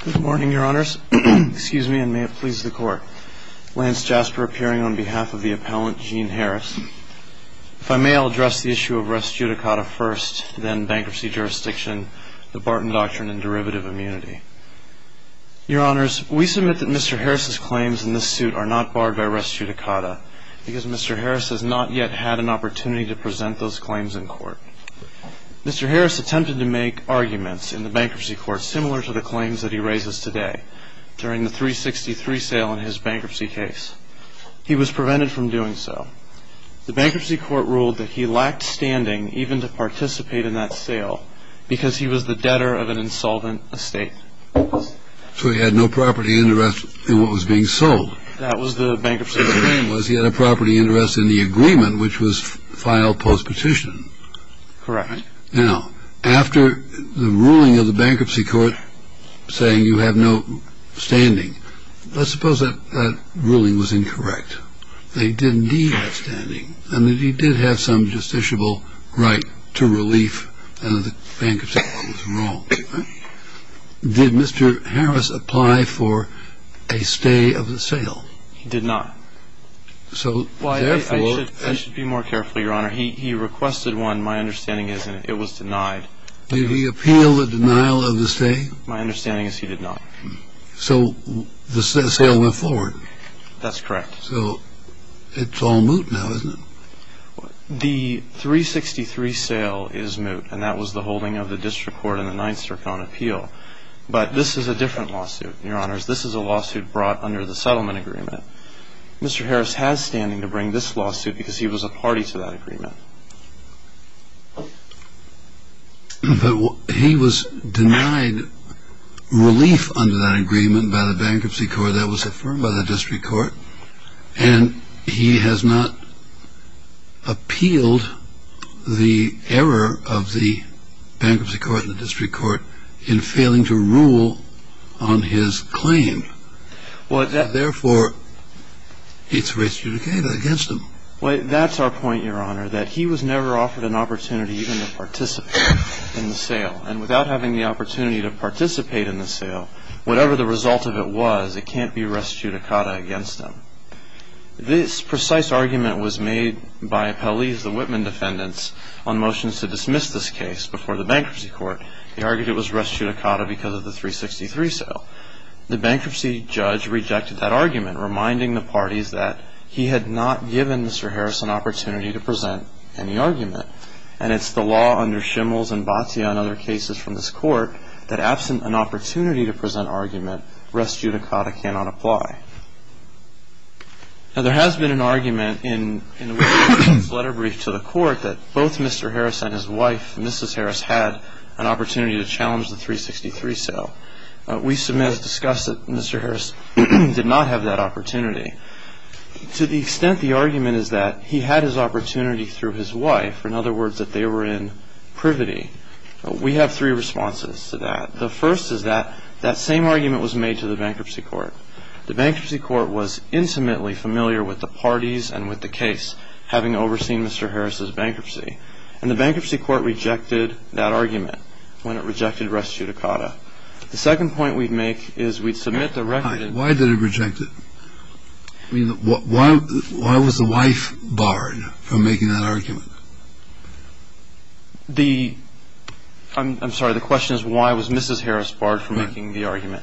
Good morning, Your Honors. Excuse me, and may it please the Court. Lance Jasper appearing on behalf of the appellant, Gene Harris. If I may, I'll address the issue of res judicata first, then bankruptcy jurisdiction, the Barton Doctrine, and derivative immunity. Your Honors, we submit that Mr. Harris's claims in this suit are not barred by res judicata because Mr. Harris has not yet had an opportunity to present those claims in court. Mr. Harris attempted to make arguments in the bankruptcy court similar to the claims that he raises today during the 363 sale in his bankruptcy case. He was prevented from doing so. The bankruptcy court ruled that he lacked standing even to participate in that sale because he was the debtor of an insolvent estate. So he had no property interest in what was being sold. That was the bankruptcy. The claim was he had a property interest in the agreement, which was filed post-petition. Correct. Now, after the ruling of the bankruptcy court saying you have no standing, let's suppose that ruling was incorrect. They did indeed have standing, and that he did have some justiciable right to relief, and the bankruptcy court was wrong. Did Mr. Harris apply for a stay of the sale? He did not. So therefore... I should be more careful, Your Honor. He requested one, my understanding is, and it was denied. Did he appeal the denial of the stay? My understanding is he did not. So the sale went forward. That's correct. So it's all moot now, isn't it? The 363 sale is moot, and that was the holding of the district court in the Ninth Circuit on appeal. But this is a different lawsuit, Your Honors. This is a lawsuit brought under the settlement agreement. Mr. Harris has standing to bring this lawsuit because he was a party to that agreement. But he was denied relief under that agreement by the bankruptcy court that was affirmed by the district court, and he has not appealed the error of the bankruptcy court and the district court in failing to rule on his claim. Therefore, it's restituted against him. Well, that's our point, Your Honor, that he was never offered an opportunity even to participate in the sale. And without having the opportunity to participate in the sale, whatever the result of it was, it can't be restituted against him. This precise argument was made by Appellees, the Whitman defendants, on motions to dismiss this case before the bankruptcy court. They argued it was restituted because of the 363 sale. The bankruptcy judge rejected that argument, reminding the parties that he had not given Mr. Harris an opportunity to present any argument. And it's the law under Shimmels and Batia and other cases from this court that absent an opportunity to present argument, res judicata cannot apply. Now, there has been an argument in the Whitman defendants' letter brief to the court that both Mr. Harris and his wife, Mrs. Harris, had an opportunity to challenge the 363 sale. We submit as discussed that Mr. Harris did not have that opportunity. To the extent the argument is that he had his opportunity through his wife, in other words, that they were in privity, we have three responses to that. The first is that that same argument was made to the bankruptcy court. The bankruptcy court was intimately familiar with the parties and with the case, having overseen Mr. Harris's bankruptcy. And the bankruptcy court rejected that argument when it rejected res judicata. The second point we'd make is we'd submit the record. Why did it reject it? I mean, why was the wife barred from making that argument? The ‑‑ I'm sorry. The question is why was Mrs. Harris barred from making the argument.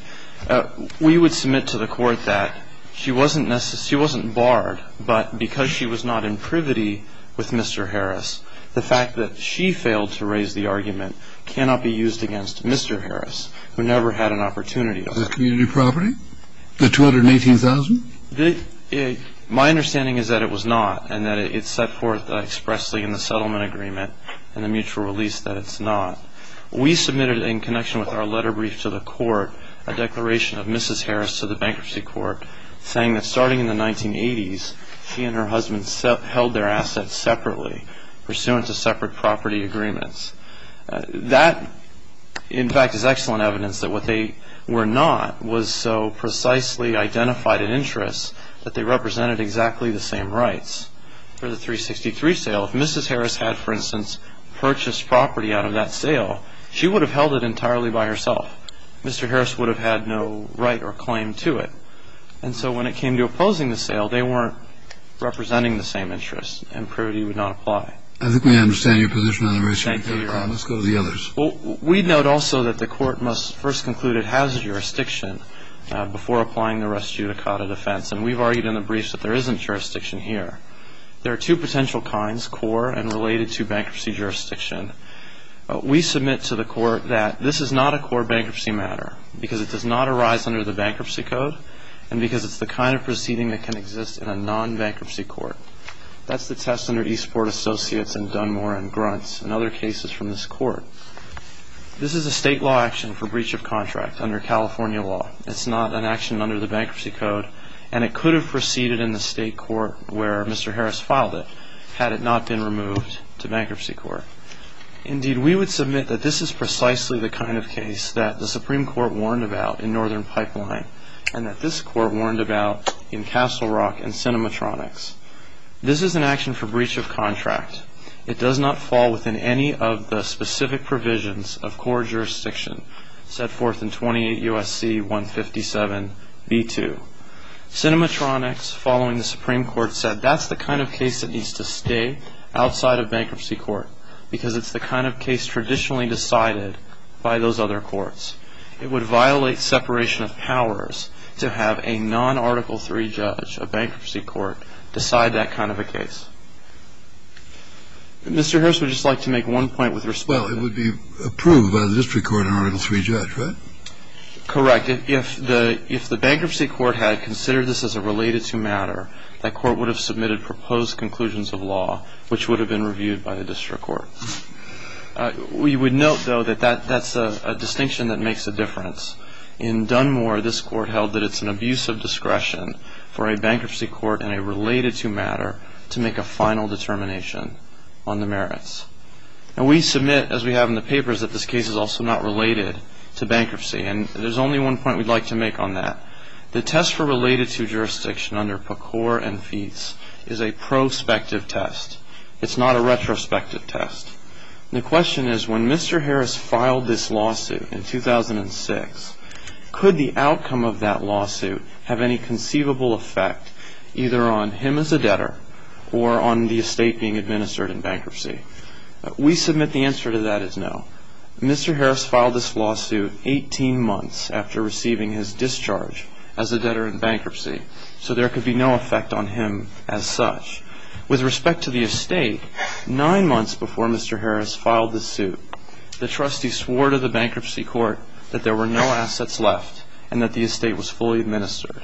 We would submit to the court that she wasn't barred, but because she was not in privity with Mr. Harris, the fact that she failed to raise the argument cannot be used against Mr. Harris, who never had an opportunity. Was it community property, the $218,000? My understanding is that it was not and that it's set forth expressly in the settlement agreement and the mutual release that it's not. We submitted in connection with our letter brief to the court a declaration of Mrs. Harris to the bankruptcy court saying that starting in the 1980s, she and her husband held their assets separately pursuant to separate property agreements. That, in fact, is excellent evidence that what they were not was so precisely identified an interest that they represented exactly the same rights. For the 363 sale, if Mrs. Harris had, for instance, purchased property out of that sale, she would have held it entirely by herself. Mr. Harris would have had no right or claim to it. And so when it came to opposing the sale, they weren't representing the same interests and privity would not apply. I think we understand your position on the race for a third crime. Thank you, Your Honor. Let's go to the others. We note also that the court must first conclude it has jurisdiction before applying the rest judicata defense. And we've argued in the briefs that there isn't jurisdiction here. There are two potential kinds, core and related to bankruptcy jurisdiction. We submit to the court that this is not a core bankruptcy matter because it does not arise under the bankruptcy code and because it's the kind of proceeding that can exist in a non-bankruptcy court. That's the test under Eastport Associates and Dunmore and Grunts and other cases from this court. This is a state law action for breach of contract under California law. It's not an action under the bankruptcy code, and it could have proceeded in the state court where Mr. Harris filed it had it not been removed to bankruptcy court. Indeed, we would submit that this is precisely the kind of case that the Supreme Court warned about in Northern Pipeline and that this court warned about in Castle Rock and Cinematronics. This is an action for breach of contract. It does not fall within any of the specific provisions of core jurisdiction set forth in 28 U.S.C. 157b2. Cinematronics, following the Supreme Court, said that's the kind of case that needs to stay outside of bankruptcy court because it's the kind of case traditionally decided by those other courts. It would violate separation of powers to have a non-Article III judge, a bankruptcy court, decide that kind of a case. Mr. Harris would just like to make one point with respect to that. Well, it would be approved by the district court in Article III judge, right? Correct. If the bankruptcy court had considered this as a related to matter, that court would have submitted proposed conclusions of law which would have been reviewed by the district court. We would note, though, that that's a distinction that makes a difference. In Dunmore, this court held that it's an abuse of discretion for a bankruptcy court and a related to matter to make a final determination on the merits. And we submit, as we have in the papers, that this case is also not related to bankruptcy, and there's only one point we'd like to make on that. The test for related to jurisdiction under PCOR and FEETS is a prospective test. It's not a retrospective test. The question is, when Mr. Harris filed this lawsuit in 2006, could the outcome of that lawsuit have any conceivable effect either on him as a debtor or on the estate being administered in bankruptcy? We submit the answer to that is no. Mr. Harris filed this lawsuit 18 months after receiving his discharge as a debtor in bankruptcy, so there could be no effect on him as such. With respect to the estate, nine months before Mr. Harris filed the suit, the trustee swore to the bankruptcy court that there were no assets left and that the estate was fully administered.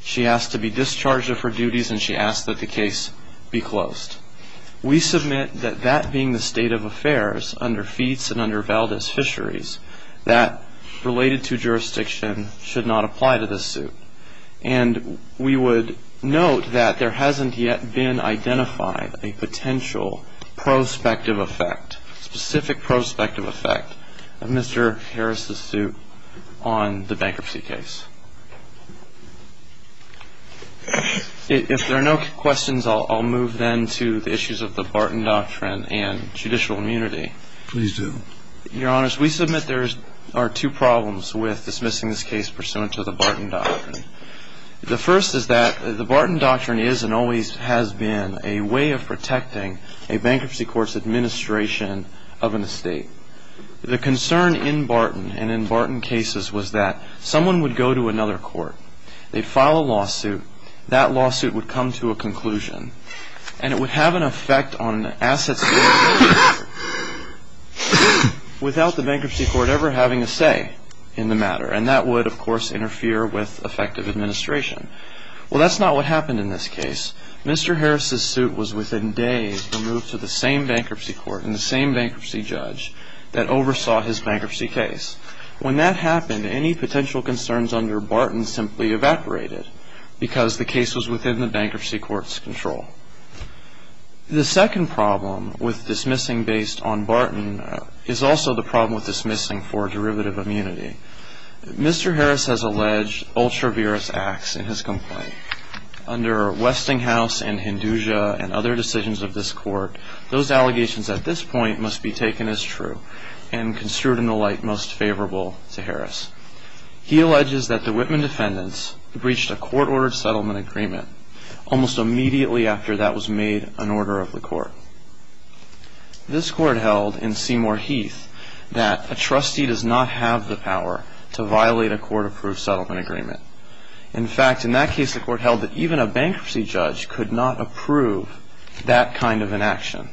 She asked to be discharged of her duties, and she asked that the case be closed. We submit that that being the state of affairs under FEETS and under Valdez Fisheries, that related to jurisdiction should not apply to this suit. And we would note that there hasn't yet been identified a potential prospective effect, specific prospective effect of Mr. Harris' suit on the bankruptcy case. If there are no questions, I'll move then to the issues of the Barton Doctrine and judicial immunity. Please do. Your Honors, we submit there are two problems with dismissing this case pursuant to the Barton Doctrine. The first is that the Barton Doctrine is and always has been a way of protecting a bankruptcy court's administration of an estate. The concern in Barton and in Barton cases was that someone would go to another court, they'd file a lawsuit, that lawsuit would come to a conclusion, and it would have an effect on assets without the bankruptcy court ever having a say in the matter. And that would, of course, interfere with effective administration. Well, that's not what happened in this case. Mr. Harris' suit was within days removed to the same bankruptcy court and the same bankruptcy judge that oversaw his bankruptcy case. When that happened, any potential concerns under Barton simply evaporated because the case was within the bankruptcy court's control. The second problem with dismissing based on Barton is also the problem with dismissing for derivative immunity. Mr. Harris has alleged ultra-virous acts in his complaint. Under Westinghouse and Hinduja and other decisions of this court, those allegations at this point must be taken as true and construed in the light most favorable to Harris. He alleges that the Whitman defendants breached a court-ordered settlement agreement almost immediately after that was made an order of the court. This court held in Seymour Heath that a trustee does not have the power to violate a court-approved settlement agreement. In fact, in that case, the court held that even a bankruptcy judge could not approve that kind of an action.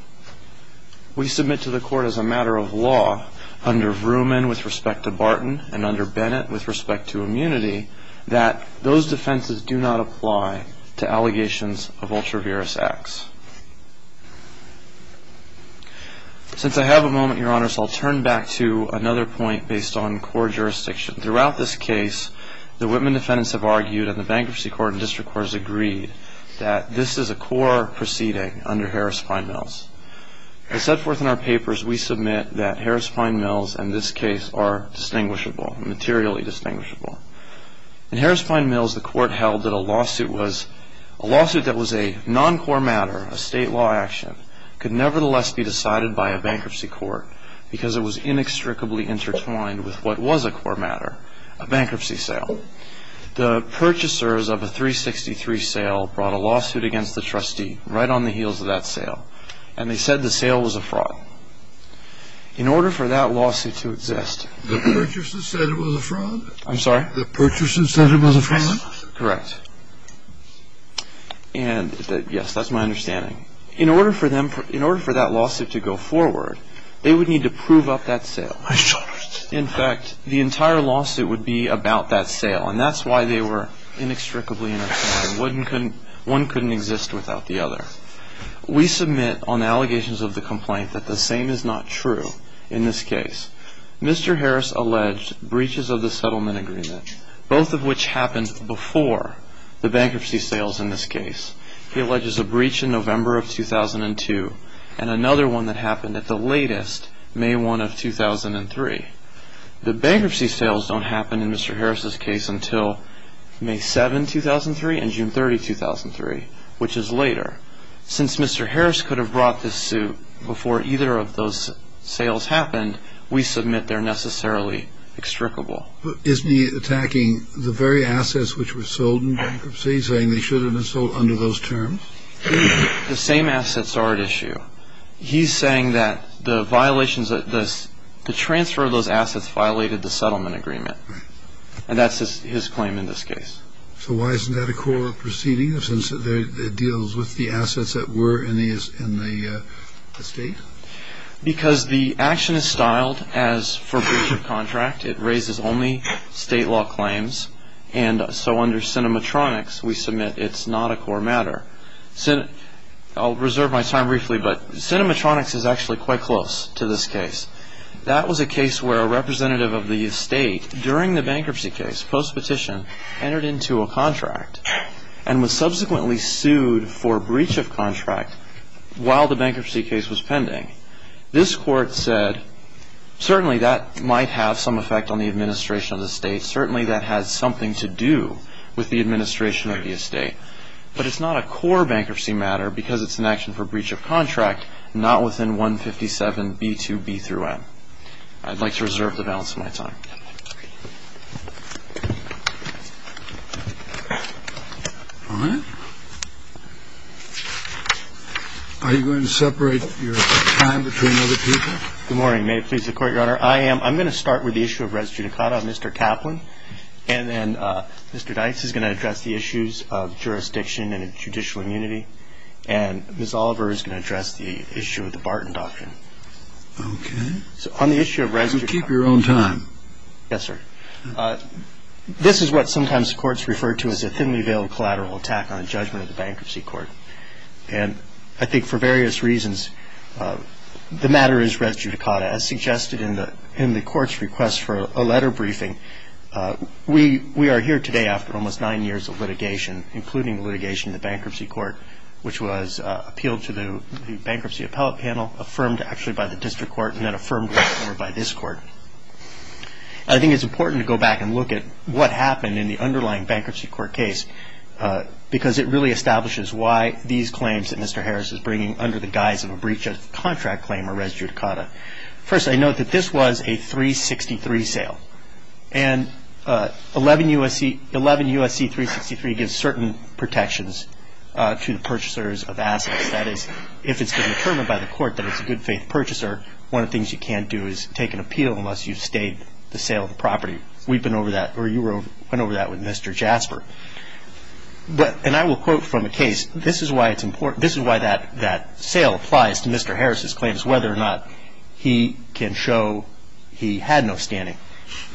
We submit to the court as a matter of law under Vrooman with respect to Barton and under Bennett with respect to immunity that those defenses do not apply to allegations of ultra-virous acts. Since I have a moment, Your Honors, I'll turn back to another point based on court jurisdiction. Throughout this case, the Whitman defendants have argued and the bankruptcy court and district courts agreed that this is a core proceeding under Harris-Fine-Mills. As set forth in our papers, we submit that Harris-Fine-Mills and this case are distinguishable, materially distinguishable. In Harris-Fine-Mills, the court held that a lawsuit that was a non-core matter, a state law action, could nevertheless be decided by a bankruptcy court because it was inextricably intertwined with what was a core matter, a bankruptcy sale. The purchasers of a 363 sale brought a lawsuit against the trustee right on the heels of that sale, and they said the sale was a fraud. In order for that lawsuit to exist... The purchasers said it was a fraud? I'm sorry? The purchasers said it was a fraud? Correct. And yes, that's my understanding. In order for that lawsuit to go forward, they would need to prove up that sale. In fact, the entire lawsuit would be about that sale, and that's why they were inextricably intertwined. One couldn't exist without the other. We submit on allegations of the complaint that the same is not true in this case. Mr. Harris alleged breaches of the settlement agreement, both of which happened before the bankruptcy sales in this case. He alleges a breach in November of 2002 and another one that happened at the latest, May 1 of 2003. The bankruptcy sales don't happen in Mr. Harris's case until May 7, 2003 and June 30, 2003, which is later. Since Mr. Harris could have brought this suit before either of those sales happened, we submit they're necessarily extricable. But isn't he attacking the very assets which were sold in bankruptcy, saying they should have been sold under those terms? The same assets are at issue. He's saying that the violations, the transfer of those assets violated the settlement agreement. Right. And that's his claim in this case. So why isn't that a court proceeding, since it deals with the assets that were in the estate? Because the action is styled as for breach of contract. It raises only state law claims. And so under Cinematronics, we submit it's not a core matter. I'll reserve my time briefly, but Cinematronics is actually quite close to this case. That was a case where a representative of the estate, during the bankruptcy case, post-petition, entered into a contract and was subsequently sued for breach of contract while the bankruptcy case was pending. This court said, certainly that might have some effect on the administration of the estate. Certainly that has something to do with the administration of the estate. But it's not a core bankruptcy matter because it's an action for breach of contract, not within 157B2B-N. I'd like to reserve the balance of my time. All right. Are you going to separate your time between other people? Good morning. May it please the Court, Your Honor. I'm going to start with the issue of res judicata on Mr. Kaplan. And then Mr. Dykes is going to address the issues of jurisdiction and judicial immunity. And Ms. Oliver is going to address the issue of the Barton Doctrine. Okay. So on the issue of res judicata. You keep your own time. Yes, sir. This is what sometimes courts refer to as a thinly veiled collateral attack on a judgment of the bankruptcy court. And I think for various reasons, the matter is res judicata. As suggested in the court's request for a letter briefing, we are here today after almost nine years of litigation, including litigation in the bankruptcy court, which was appealed to the bankruptcy appellate panel, affirmed actually by the district court, and then affirmed by this court. I think it's important to go back and look at what happened in the underlying bankruptcy court case because it really establishes why these claims that Mr. Harris is bringing under the guise of a breach of contract claim are res judicata. First, I note that this was a 363 sale. And 11 U.S.C. 363 gives certain protections to the purchasers of assets. That is, if it's been determined by the court that it's a good faith purchaser, one of the things you can't do is take an appeal unless you've stayed the sale of the property. We've been over that, or you went over that with Mr. Jasper. And I will quote from a case. This is why it's important. This is why that sale applies to Mr. Harris's claims, whether or not he can show he had no standing.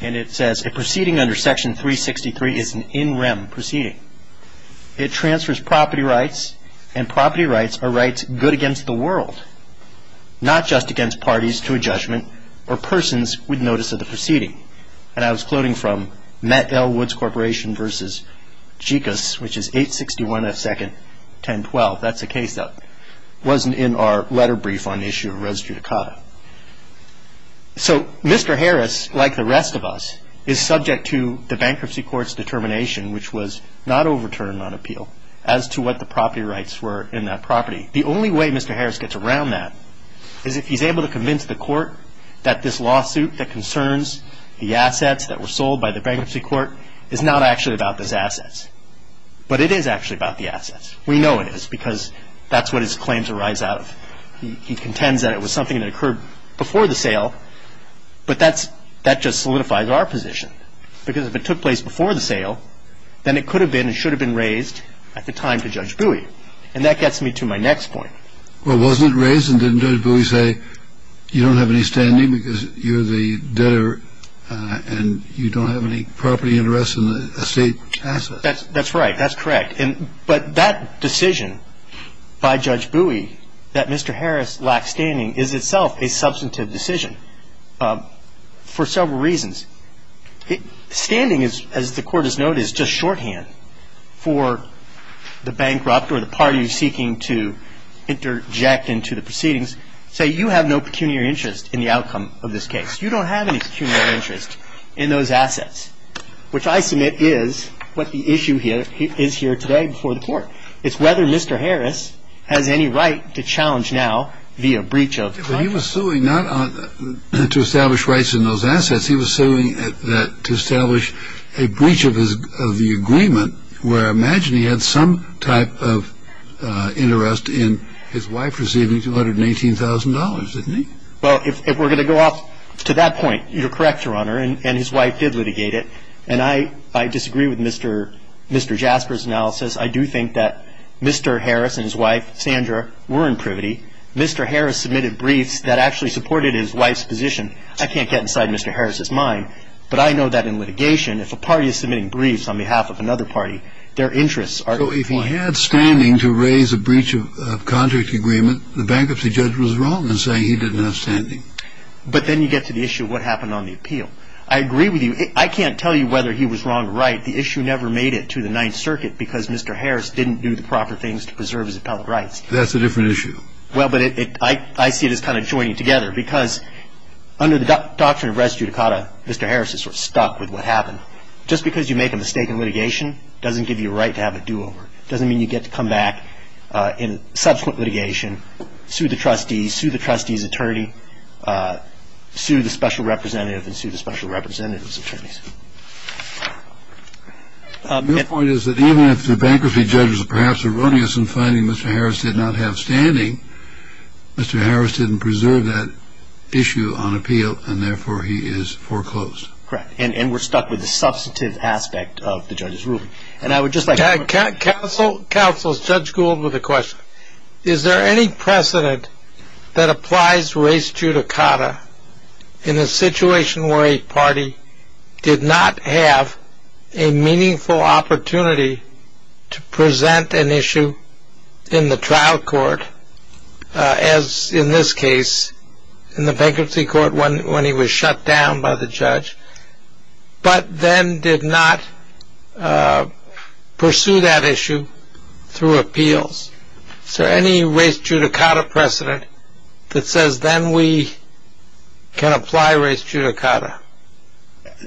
And it says, A proceeding under Section 363 is an in rem proceeding. It transfers property rights, and property rights are rights good against the world, not just against parties to a judgment or persons with notice of the proceeding. And I was quoting from Matt L. Woods Corporation v. Jekus, which is 861 F. 2nd 1012. That's a case that wasn't in our letter brief on the issue of res judicata. So Mr. Harris, like the rest of us, is subject to the bankruptcy court's determination, which was not overturned on appeal, as to what the property rights were in that property. The only way Mr. Harris gets around that is if he's able to convince the court that this lawsuit that concerns the assets that were sold by the bankruptcy court is not actually about those assets. But it is actually about the assets. We know it is because that's what his claims arise out of. He contends that it was something that occurred before the sale, but that just solidifies our position. Because if it took place before the sale, then it could have been and should have been raised at the time to Judge Bowie. And that gets me to my next point. Well, wasn't it raised and didn't Judge Bowie say you don't have any standing because you're the debtor and you don't have any property interests in the estate assets? That's right. That's correct. But that decision by Judge Bowie that Mr. Harris lacked standing is itself a substantive decision for several reasons. Standing, as the Court has noted, is just shorthand for the bankrupt or the party seeking to interject into the proceedings. Say you have no pecuniary interest in the outcome of this case. You don't have any pecuniary interest in those assets, which I submit is what the issue is here today before the Court. It's whether Mr. Harris has any right to challenge now via breach of contract. He was suing not to establish rights in those assets. He was suing to establish a breach of the agreement where I imagine he had some type of interest in his wife receiving $218,000, didn't he? Well, if we're going to go off to that point, you're correct, Your Honor, and his wife did litigate it. And I disagree with Mr. Jasper's analysis. I do think that Mr. Harris and his wife, Sandra, were in privity. Mr. Harris submitted briefs that actually supported his wife's position. I can't get inside Mr. Harris's mind, but I know that in litigation, if a party is submitting briefs on behalf of another party, their interests are defined. So if he had standing to raise a breach of contract agreement, the bankruptcy judge was wrong in saying he didn't have standing. But then you get to the issue of what happened on the appeal. I agree with you. I can't tell you whether he was wrong or right. The issue never made it to the Ninth Circuit because Mr. Harris didn't do the proper things to preserve his appellate rights. That's a different issue. Well, but I see this kind of joining together because under the doctrine of res judicata, Mr. Harris is sort of stuck with what happened. Just because you make a mistake in litigation doesn't give you a right to have a do-over. It doesn't mean you get to come back in subsequent litigation, sue the trustees, sue the trustees' attorney, sue the special representative, and sue the special representative's attorneys. My point is that even if the bankruptcy judge is perhaps erroneous in finding Mr. Harris did not have standing, Mr. Harris didn't preserve that issue on appeal, and therefore he is foreclosed. Correct. And we're stuck with the substantive aspect of the judge's ruling. Is there any precedent that applies res judicata in a situation where a party did not have a meaningful opportunity to present an issue in the trial court, as in this case, in the bankruptcy court when he was shut down by the judge, but then did not pursue that issue through appeals? Is there any res judicata precedent that says then we can apply res judicata?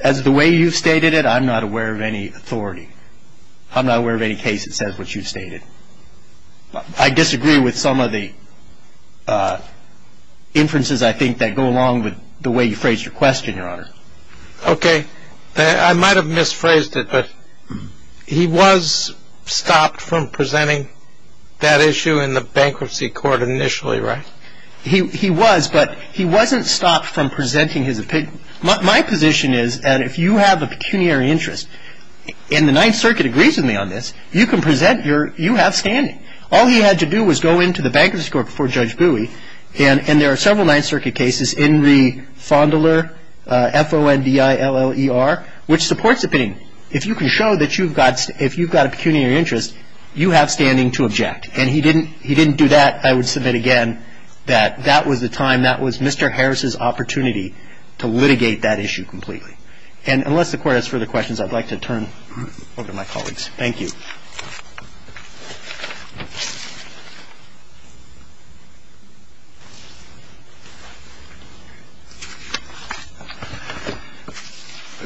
As the way you've stated it, I'm not aware of any authority. I'm not aware of any case that says what you've stated. I disagree with some of the inferences, I think, that go along with the way you phrased your question, Your Honor. Okay. I might have misphrased it, but he was stopped from presenting that issue in the bankruptcy court initially, right? He was, but he wasn't stopped from presenting his opinion. My position is that if you have a pecuniary interest, and the Ninth Circuit agrees with me on this, you can present your, you have standing. All he had to do was go into the bankruptcy court before Judge Bowie, and there are several Ninth Circuit cases, Enri Fondler, F-O-N-D-I-L-L-E-R, which supports opinion. If you can show that you've got, if you've got a pecuniary interest, you have standing to object. And he didn't, he didn't do that. I would submit again that that was the time, that was Mr. Harris's opportunity to litigate that issue completely. And unless the Court has further questions, I'd like to turn over to my colleagues. Thank you.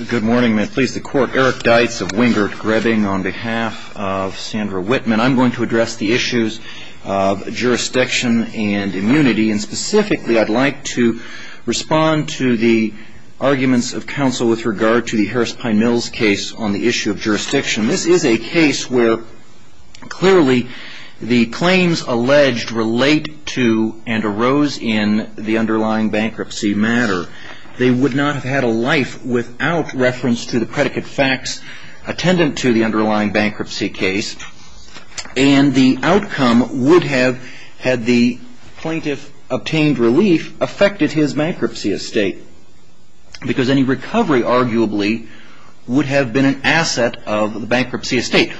Good morning. May it please the Court. Eric Deitz of Wingert-Grebbing on behalf of Sandra Whitman. I'm going to address the issues of jurisdiction and immunity. And specifically, I'd like to respond to the arguments of counsel with regard to the Harris-Pine Mills case on the issue of jurisdiction. This is a case where clearly the claims alleged relate to and arose in the underlying bankruptcy matter. They would not have had a life without reference to the predicate facts attendant to the underlying bankruptcy case. And the outcome would have, had the plaintiff obtained relief, affected his bankruptcy estate. Because any recovery, arguably, would have been an asset of the bankruptcy estate.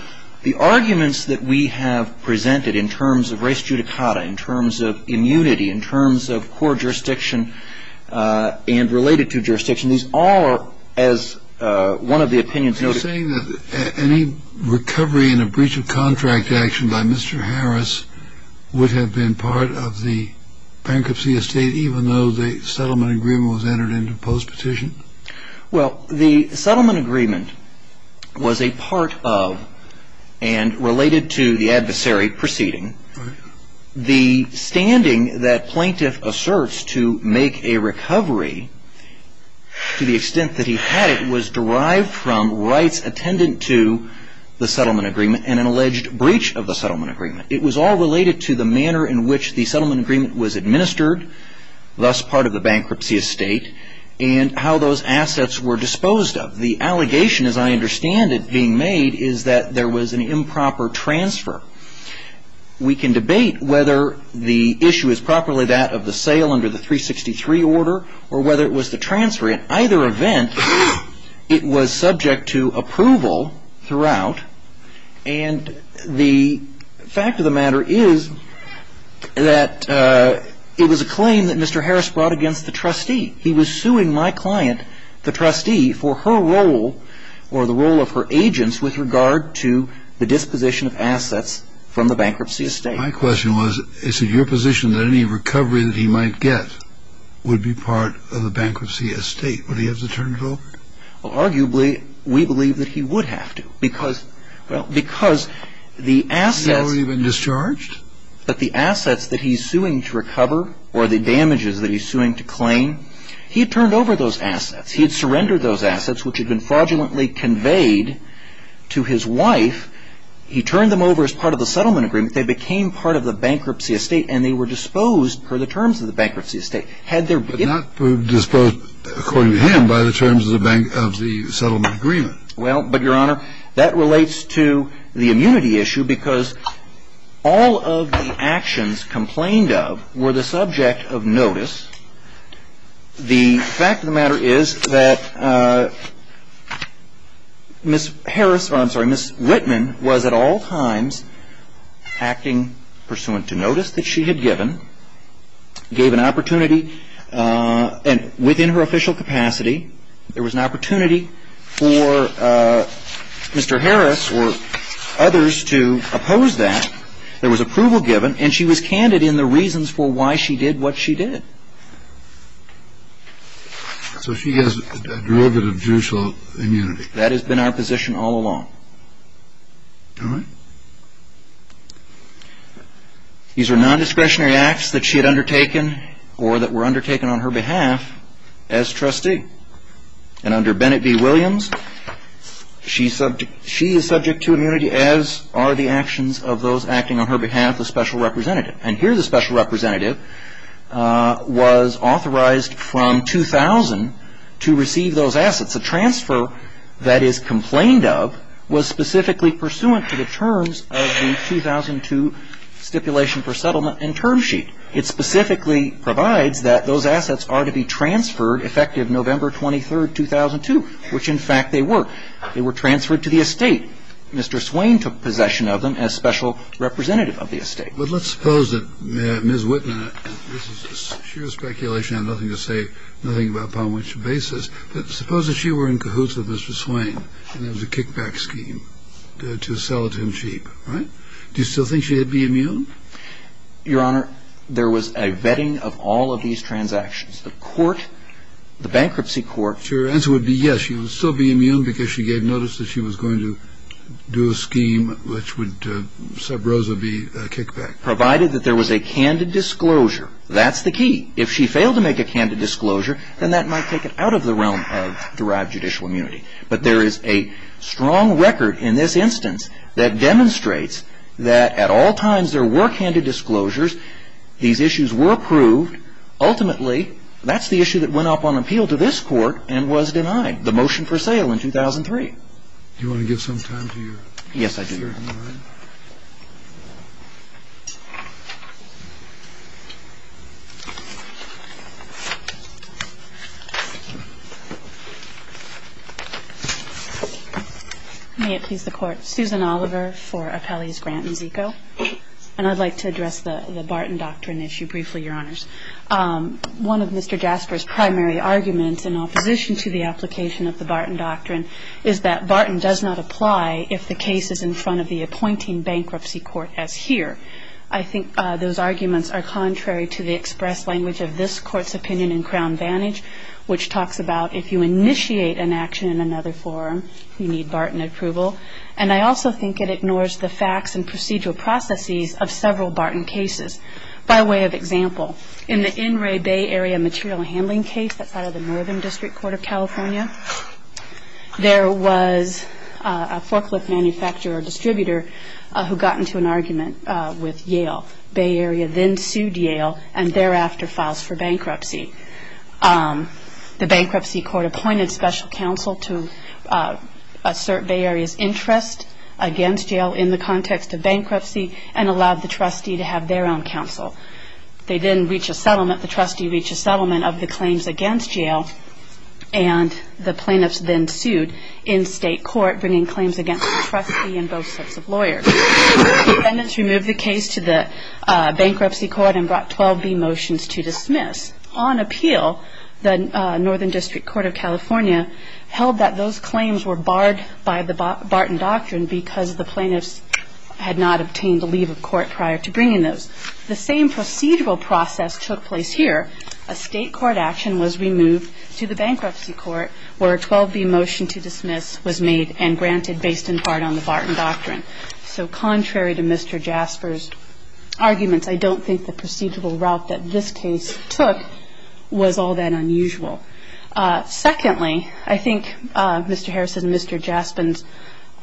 The arguments that we have presented in terms of res judicata, in terms of immunity, in terms of core jurisdiction and related to jurisdiction, these all are as one of the opinions noted. Are you saying that any recovery in a breach of contract action by Mr. Harris would have been part of the bankruptcy estate, even though the settlement agreement was entered into post-petition? Well, the settlement agreement was a part of and related to the adversary proceeding. The standing that plaintiff asserts to make a recovery, to the extent that he had it, was derived from rights attendant to the settlement agreement and an alleged breach of the settlement agreement. It was all related to the manner in which the settlement agreement was administered, thus part of the bankruptcy estate, and how those assets were disposed of. The allegation, as I understand it, being made is that there was an improper transfer. We can debate whether the issue is properly that of the sale under the 363 order or whether it was the transfer. In either event, it was subject to approval throughout. And the fact of the matter is that it was a claim that Mr. Harris brought against the trustee. He was suing my client, the trustee, for her role or the role of her agents with regard to the disposition of assets from the bankruptcy estate. My question was, is it your position that any recovery that he might get would be part of the bankruptcy estate? Would he have to turn it over? Well, arguably, we believe that he would have to because the assets… Has he already been discharged? But the assets that he's suing to recover or the damages that he's suing to claim, he had turned over those assets. He had surrendered those assets, which had been fraudulently conveyed to his wife. He turned them over as part of the settlement agreement. They became part of the bankruptcy estate, and they were disposed per the terms of the bankruptcy estate. But not disposed, according to him, by the terms of the settlement agreement. Well, but, Your Honor, that relates to the immunity issue because all of the actions complained of were the subject of notice. The fact of the matter is that Ms. Harris, I'm sorry, Ms. Whitman was at all times acting pursuant to notice that she had given, gave an opportunity, and within her official capacity, there was an opportunity for Mr. Harris or others to oppose that. There was approval given, and she was candid in the reasons for why she did what she did. So she has a derivative judicial immunity. That has been our position all along. All right. These are non-discretionary acts that she had undertaken or that were undertaken on her behalf as trustee. And under Bennett v. Williams, she is subject to immunity as are the actions of those acting on her behalf as special representative. And here the special representative was authorized from 2000 to receive those assets. A transfer that is complained of was specifically pursuant to the terms of the 2002 Stipulation for Settlement and Term Sheet. It specifically provides that those assets are to be transferred effective November 23, 2002, which in fact they were. They were transferred to the estate. Mr. Swain took possession of them as special representative of the estate. But let's suppose that Ms. Whitman, and this is sheer speculation, I have nothing to say, nothing about upon which basis, but suppose that she were in cahoots with Mr. Swain and it was a kickback scheme to sell it to him cheap, right? Do you still think she would be immune? Your Honor, there was a vetting of all of these transactions. The court, the bankruptcy court. Your answer would be yes. She would still be immune because she gave notice that she was going to do a scheme which would, sub rosa, be a kickback. Provided that there was a candid disclosure. That's the key. If she failed to make a candid disclosure, then that might take it out of the realm of derived judicial immunity. But there is a strong record in this instance that demonstrates that at all times there were candid disclosures. These issues were approved. Ultimately, that's the issue that went up on appeal to this court and was denied. The motion for sale in 2003. Do you want to give some time to your. Yes, I do. May it please the Court. Susan Oliver for Appellees Grant and Zico. And I'd like to address the Barton Doctrine issue briefly, Your Honors. One of Mr. Jasper's primary arguments in opposition to the application of the Barton Doctrine is that Barton does not apply if the case is in front of the appointing bankruptcy court as here. I think those arguments are contrary to the express language of this Court's opinion in Crown Vantage, which talks about if you initiate an action in another forum, you need Barton approval. And I also think it ignores the facts and procedural processes of several Barton cases. By way of example, in the In Re Bay Area material handling case, that's out of the Northern District Court of California, there was a forklift manufacturer or distributor who got into an argument with Yale. Bay Area then sued Yale and thereafter files for bankruptcy. The bankruptcy court appointed special counsel to assert Bay Area's interest against Yale in the context of bankruptcy and allowed the trustee to have their own counsel. They didn't reach a settlement. The trustee reached a settlement of the claims against Yale, and the plaintiffs then sued in state court bringing claims against the trustee and both sets of lawyers. Defendants removed the case to the bankruptcy court and brought 12B motions to dismiss. On appeal, the Northern District Court of California held that those claims were barred by the Barton Doctrine because the plaintiffs had not obtained a leave of court prior to bringing those. The same procedural process took place here. A state court action was removed to the bankruptcy court where a 12B motion to dismiss was made and granted based in part on the Barton Doctrine. So contrary to Mr. Jasper's arguments, I don't think the procedural route that this case took was all that unusual. Secondly, I think Mr. Harris and Mr. Jasper's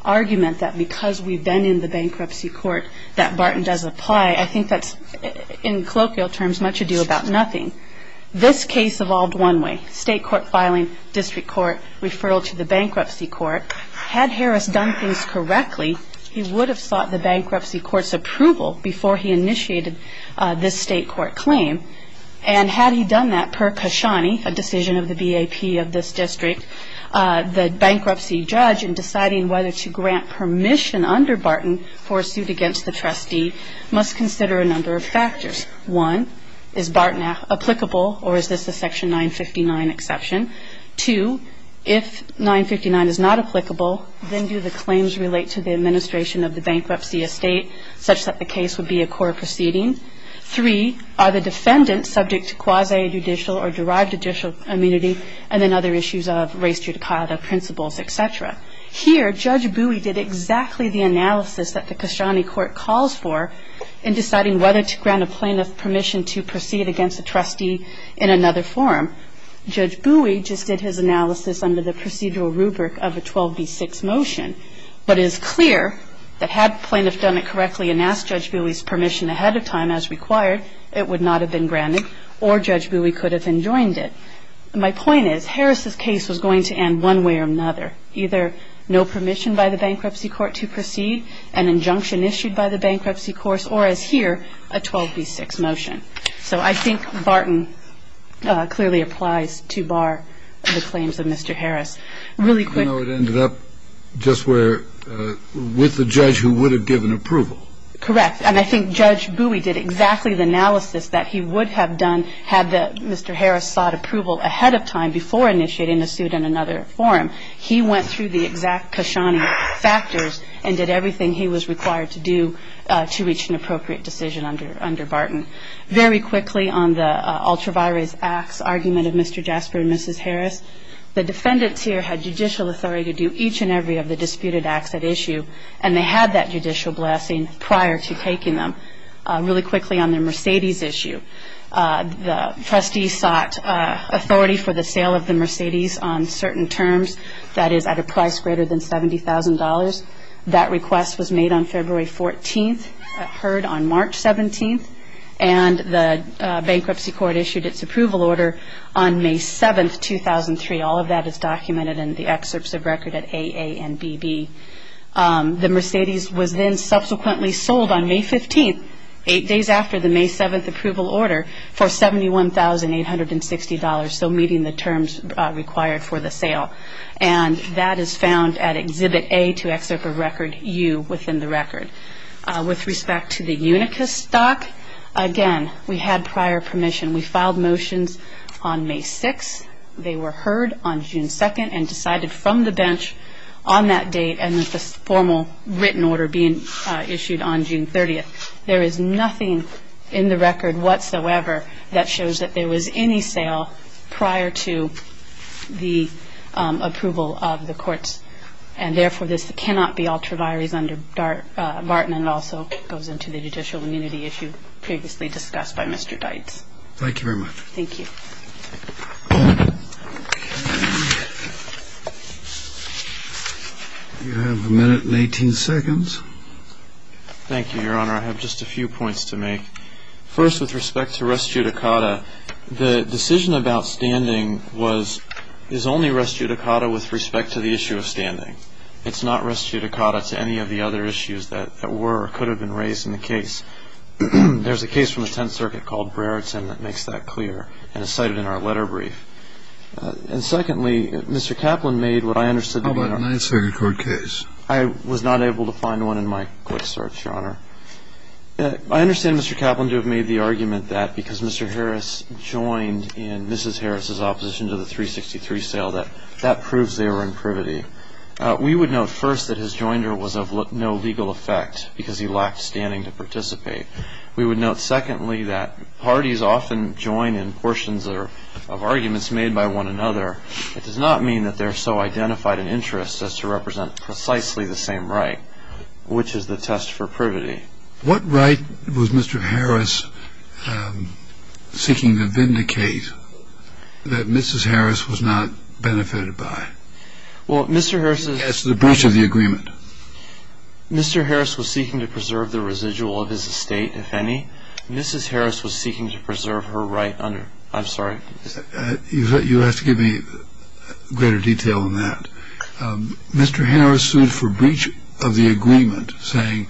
argument that because we've been in the bankruptcy court that Barton does apply, I think that's in colloquial terms much ado about nothing. This case evolved one way, state court filing, district court, referral to the bankruptcy court. Had Harris done things correctly, he would have sought the bankruptcy court's approval before he initiated this state court claim. And had he done that, per Kashani, a decision of the BAP of this district, the bankruptcy judge in deciding whether to grant permission under Barton for a suit against the trustee, must consider a number of factors. One, is Barton applicable or is this a Section 959 exception? Two, if 959 is not applicable, then do the claims relate to the administration of the bankruptcy estate such that the case would be a court proceeding? Three, are the defendants subject to quasi-judicial or derived judicial immunity and then other issues of race, judicata, principles, et cetera? Here, Judge Bowie did exactly the analysis that the Kashani court calls for in deciding whether to grant a plaintiff permission to proceed against a trustee in another forum. Judge Bowie just did his analysis under the procedural rubric of a 12B6 motion. But it is clear that had the plaintiff done it correctly and asked Judge Bowie's permission ahead of time as required, it would not have been granted or Judge Bowie could have enjoined it. My point is, Harris' case was going to end one way or another, either no permission by the bankruptcy court to proceed, an injunction issued by the bankruptcy court, or as here, a 12B6 motion. So I think Barton clearly applies to bar the claims of Mr. Harris. I know it ended up just where, with the judge who would have given approval. Correct. And I think Judge Bowie did exactly the analysis that he would have done had Mr. Harris sought approval ahead of time before initiating a suit in another forum. He went through the exact Kashani factors and did everything he was required to do to reach an appropriate decision under Barton. Very quickly, on the ultra-virus acts argument of Mr. Jasper and Mrs. Harris, the defendants here had judicial authority to do each and every of the disputed acts at issue, and they had that judicial blessing prior to taking them. Really quickly, on the Mercedes issue, the trustees sought authority for the sale of the Mercedes on certain terms, that is, at a price greater than $70,000. That request was made on February 14th, heard on March 17th, and the bankruptcy court issued its approval order on May 7th, 2003. All of that is documented in the excerpts of record at AA and BB. The Mercedes was then subsequently sold on May 15th, eight days after the May 7th approval order, for $71,860, so meeting the terms required for the sale. And that is found at Exhibit A to Excerpt of Record U within the record. With respect to the Unicus stock, again, we had prior permission. We filed motions on May 6th. They were heard on June 2nd and decided from the bench on that date and with the formal written order being issued on June 30th. There is nothing in the record whatsoever that shows that there was any sale prior to the approval of the courts, and therefore, this cannot be ultra vires under Barton and also goes into the judicial immunity issue previously discussed by Mr. Deitz. Thank you very much. Thank you. You have a minute and 18 seconds. Thank you, Your Honor. I have just a few points to make. First, with respect to res judicata, the decision about standing is only res judicata with respect to the issue of standing. It's not res judicata to any of the other issues that were or could have been raised in the case. There's a case from the Tenth Circuit called Brereton that makes that clear and is cited in our letter brief. And secondly, Mr. Kaplan made what I understood to be a nice record case. I understand Mr. Kaplan to have made the argument that because Mr. Harris joined in Mrs. Harris's opposition to the 363 sale that that proves they were in privity. We would note first that his joinder was of no legal effect because he lacked standing to participate. We would note secondly that parties often join in portions of arguments made by one another. It does not mean that they're so identified an interest as to represent precisely the same right, which is the test for privity. What right was Mr. Harris seeking to vindicate that Mrs. Harris was not benefited by? Well, Mr. Harris's. As to the breach of the agreement. Mr. Harris was seeking to preserve the residual of his estate, if any. Mrs. Harris was seeking to preserve her right under. I'm sorry. You have to give me greater detail on that. Mr. Harris sued for breach of the agreement, saying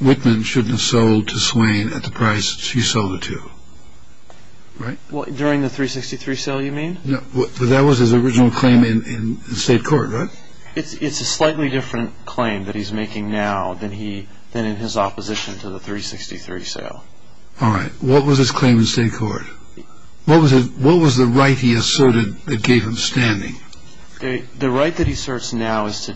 Whitman shouldn't have sold to Swain at the price she sold it to. Right? During the 363 sale, you mean? That was his original claim in state court, right? It's a slightly different claim that he's making now than in his opposition to the 363 sale. All right. What was his claim in state court? What was the right he asserted that gave him standing? The right that he asserts now is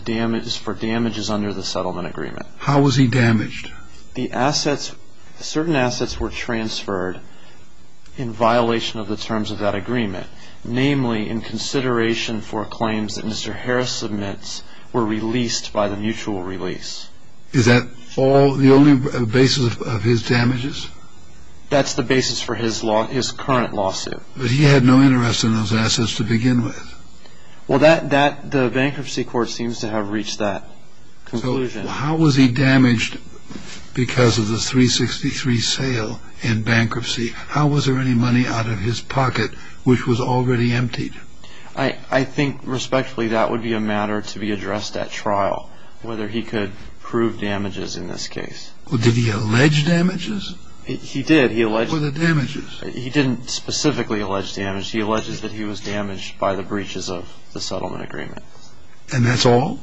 for damages under the settlement agreement. How was he damaged? Certain assets were transferred in violation of the terms of that agreement, namely in consideration for claims that Mr. Harris submits were released by the mutual release. Is that the only basis of his damages? That's the basis for his current lawsuit. But he had no interest in those assets to begin with. Well, the bankruptcy court seems to have reached that conclusion. So how was he damaged because of the 363 sale and bankruptcy? How was there any money out of his pocket which was already emptied? I think respectfully that would be a matter to be addressed at trial, whether he could prove damages in this case. Well, did he allege damages? He did. He alleged damages. What were the damages? He didn't specifically allege damages. He alleged that he was damaged by the breaches of the settlement agreement. And that's all?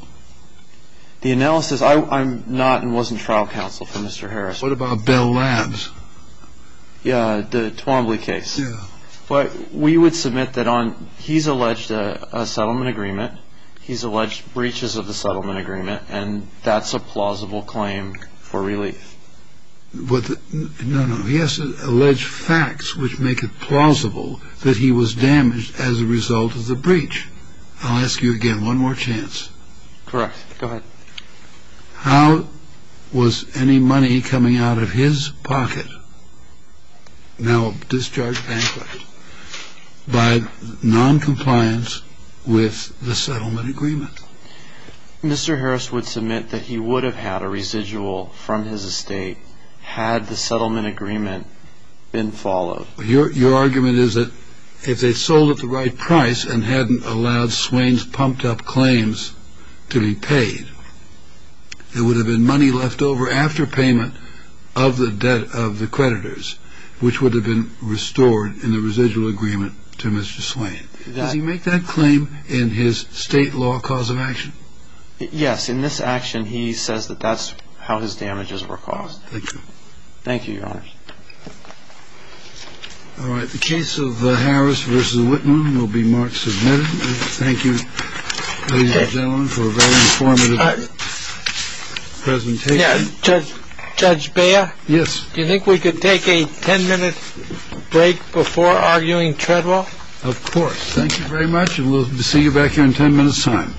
The analysis, I'm not and wasn't trial counsel for Mr. Harris. What about Bell Labs? Yeah, the Twombly case. Yeah. We would submit that he's alleged a settlement agreement, he's alleged breaches of the settlement agreement, and that's a plausible claim for relief. No, no. He has to allege facts which make it plausible that he was damaged as a result of the breach. I'll ask you again. One more chance. Correct. Go ahead. How was any money coming out of his pocket now discharged bankrupt by noncompliance with the settlement agreement? Mr. Harris would submit that he would have had a residual from his estate had the settlement agreement been followed. Your argument is that if they sold at the right price and hadn't allowed Swain's pumped-up claims to be paid, there would have been money left over after payment of the debt of the creditors, which would have been restored in the residual agreement to Mr. Swain. Does he make that claim in his state law cause of action? Yes. In this action, he says that that's how his damages were caused. Thank you. Thank you, Your Honor. All right. The case of Harris v. Whitman will be marked submitted. Thank you, ladies and gentlemen, for a very informative presentation. Judge Beyer? Yes. Do you think we could take a 10-minute break before arguing Treadwell? Of course. Thank you very much, and we'll see you back here in 10 minutes' time.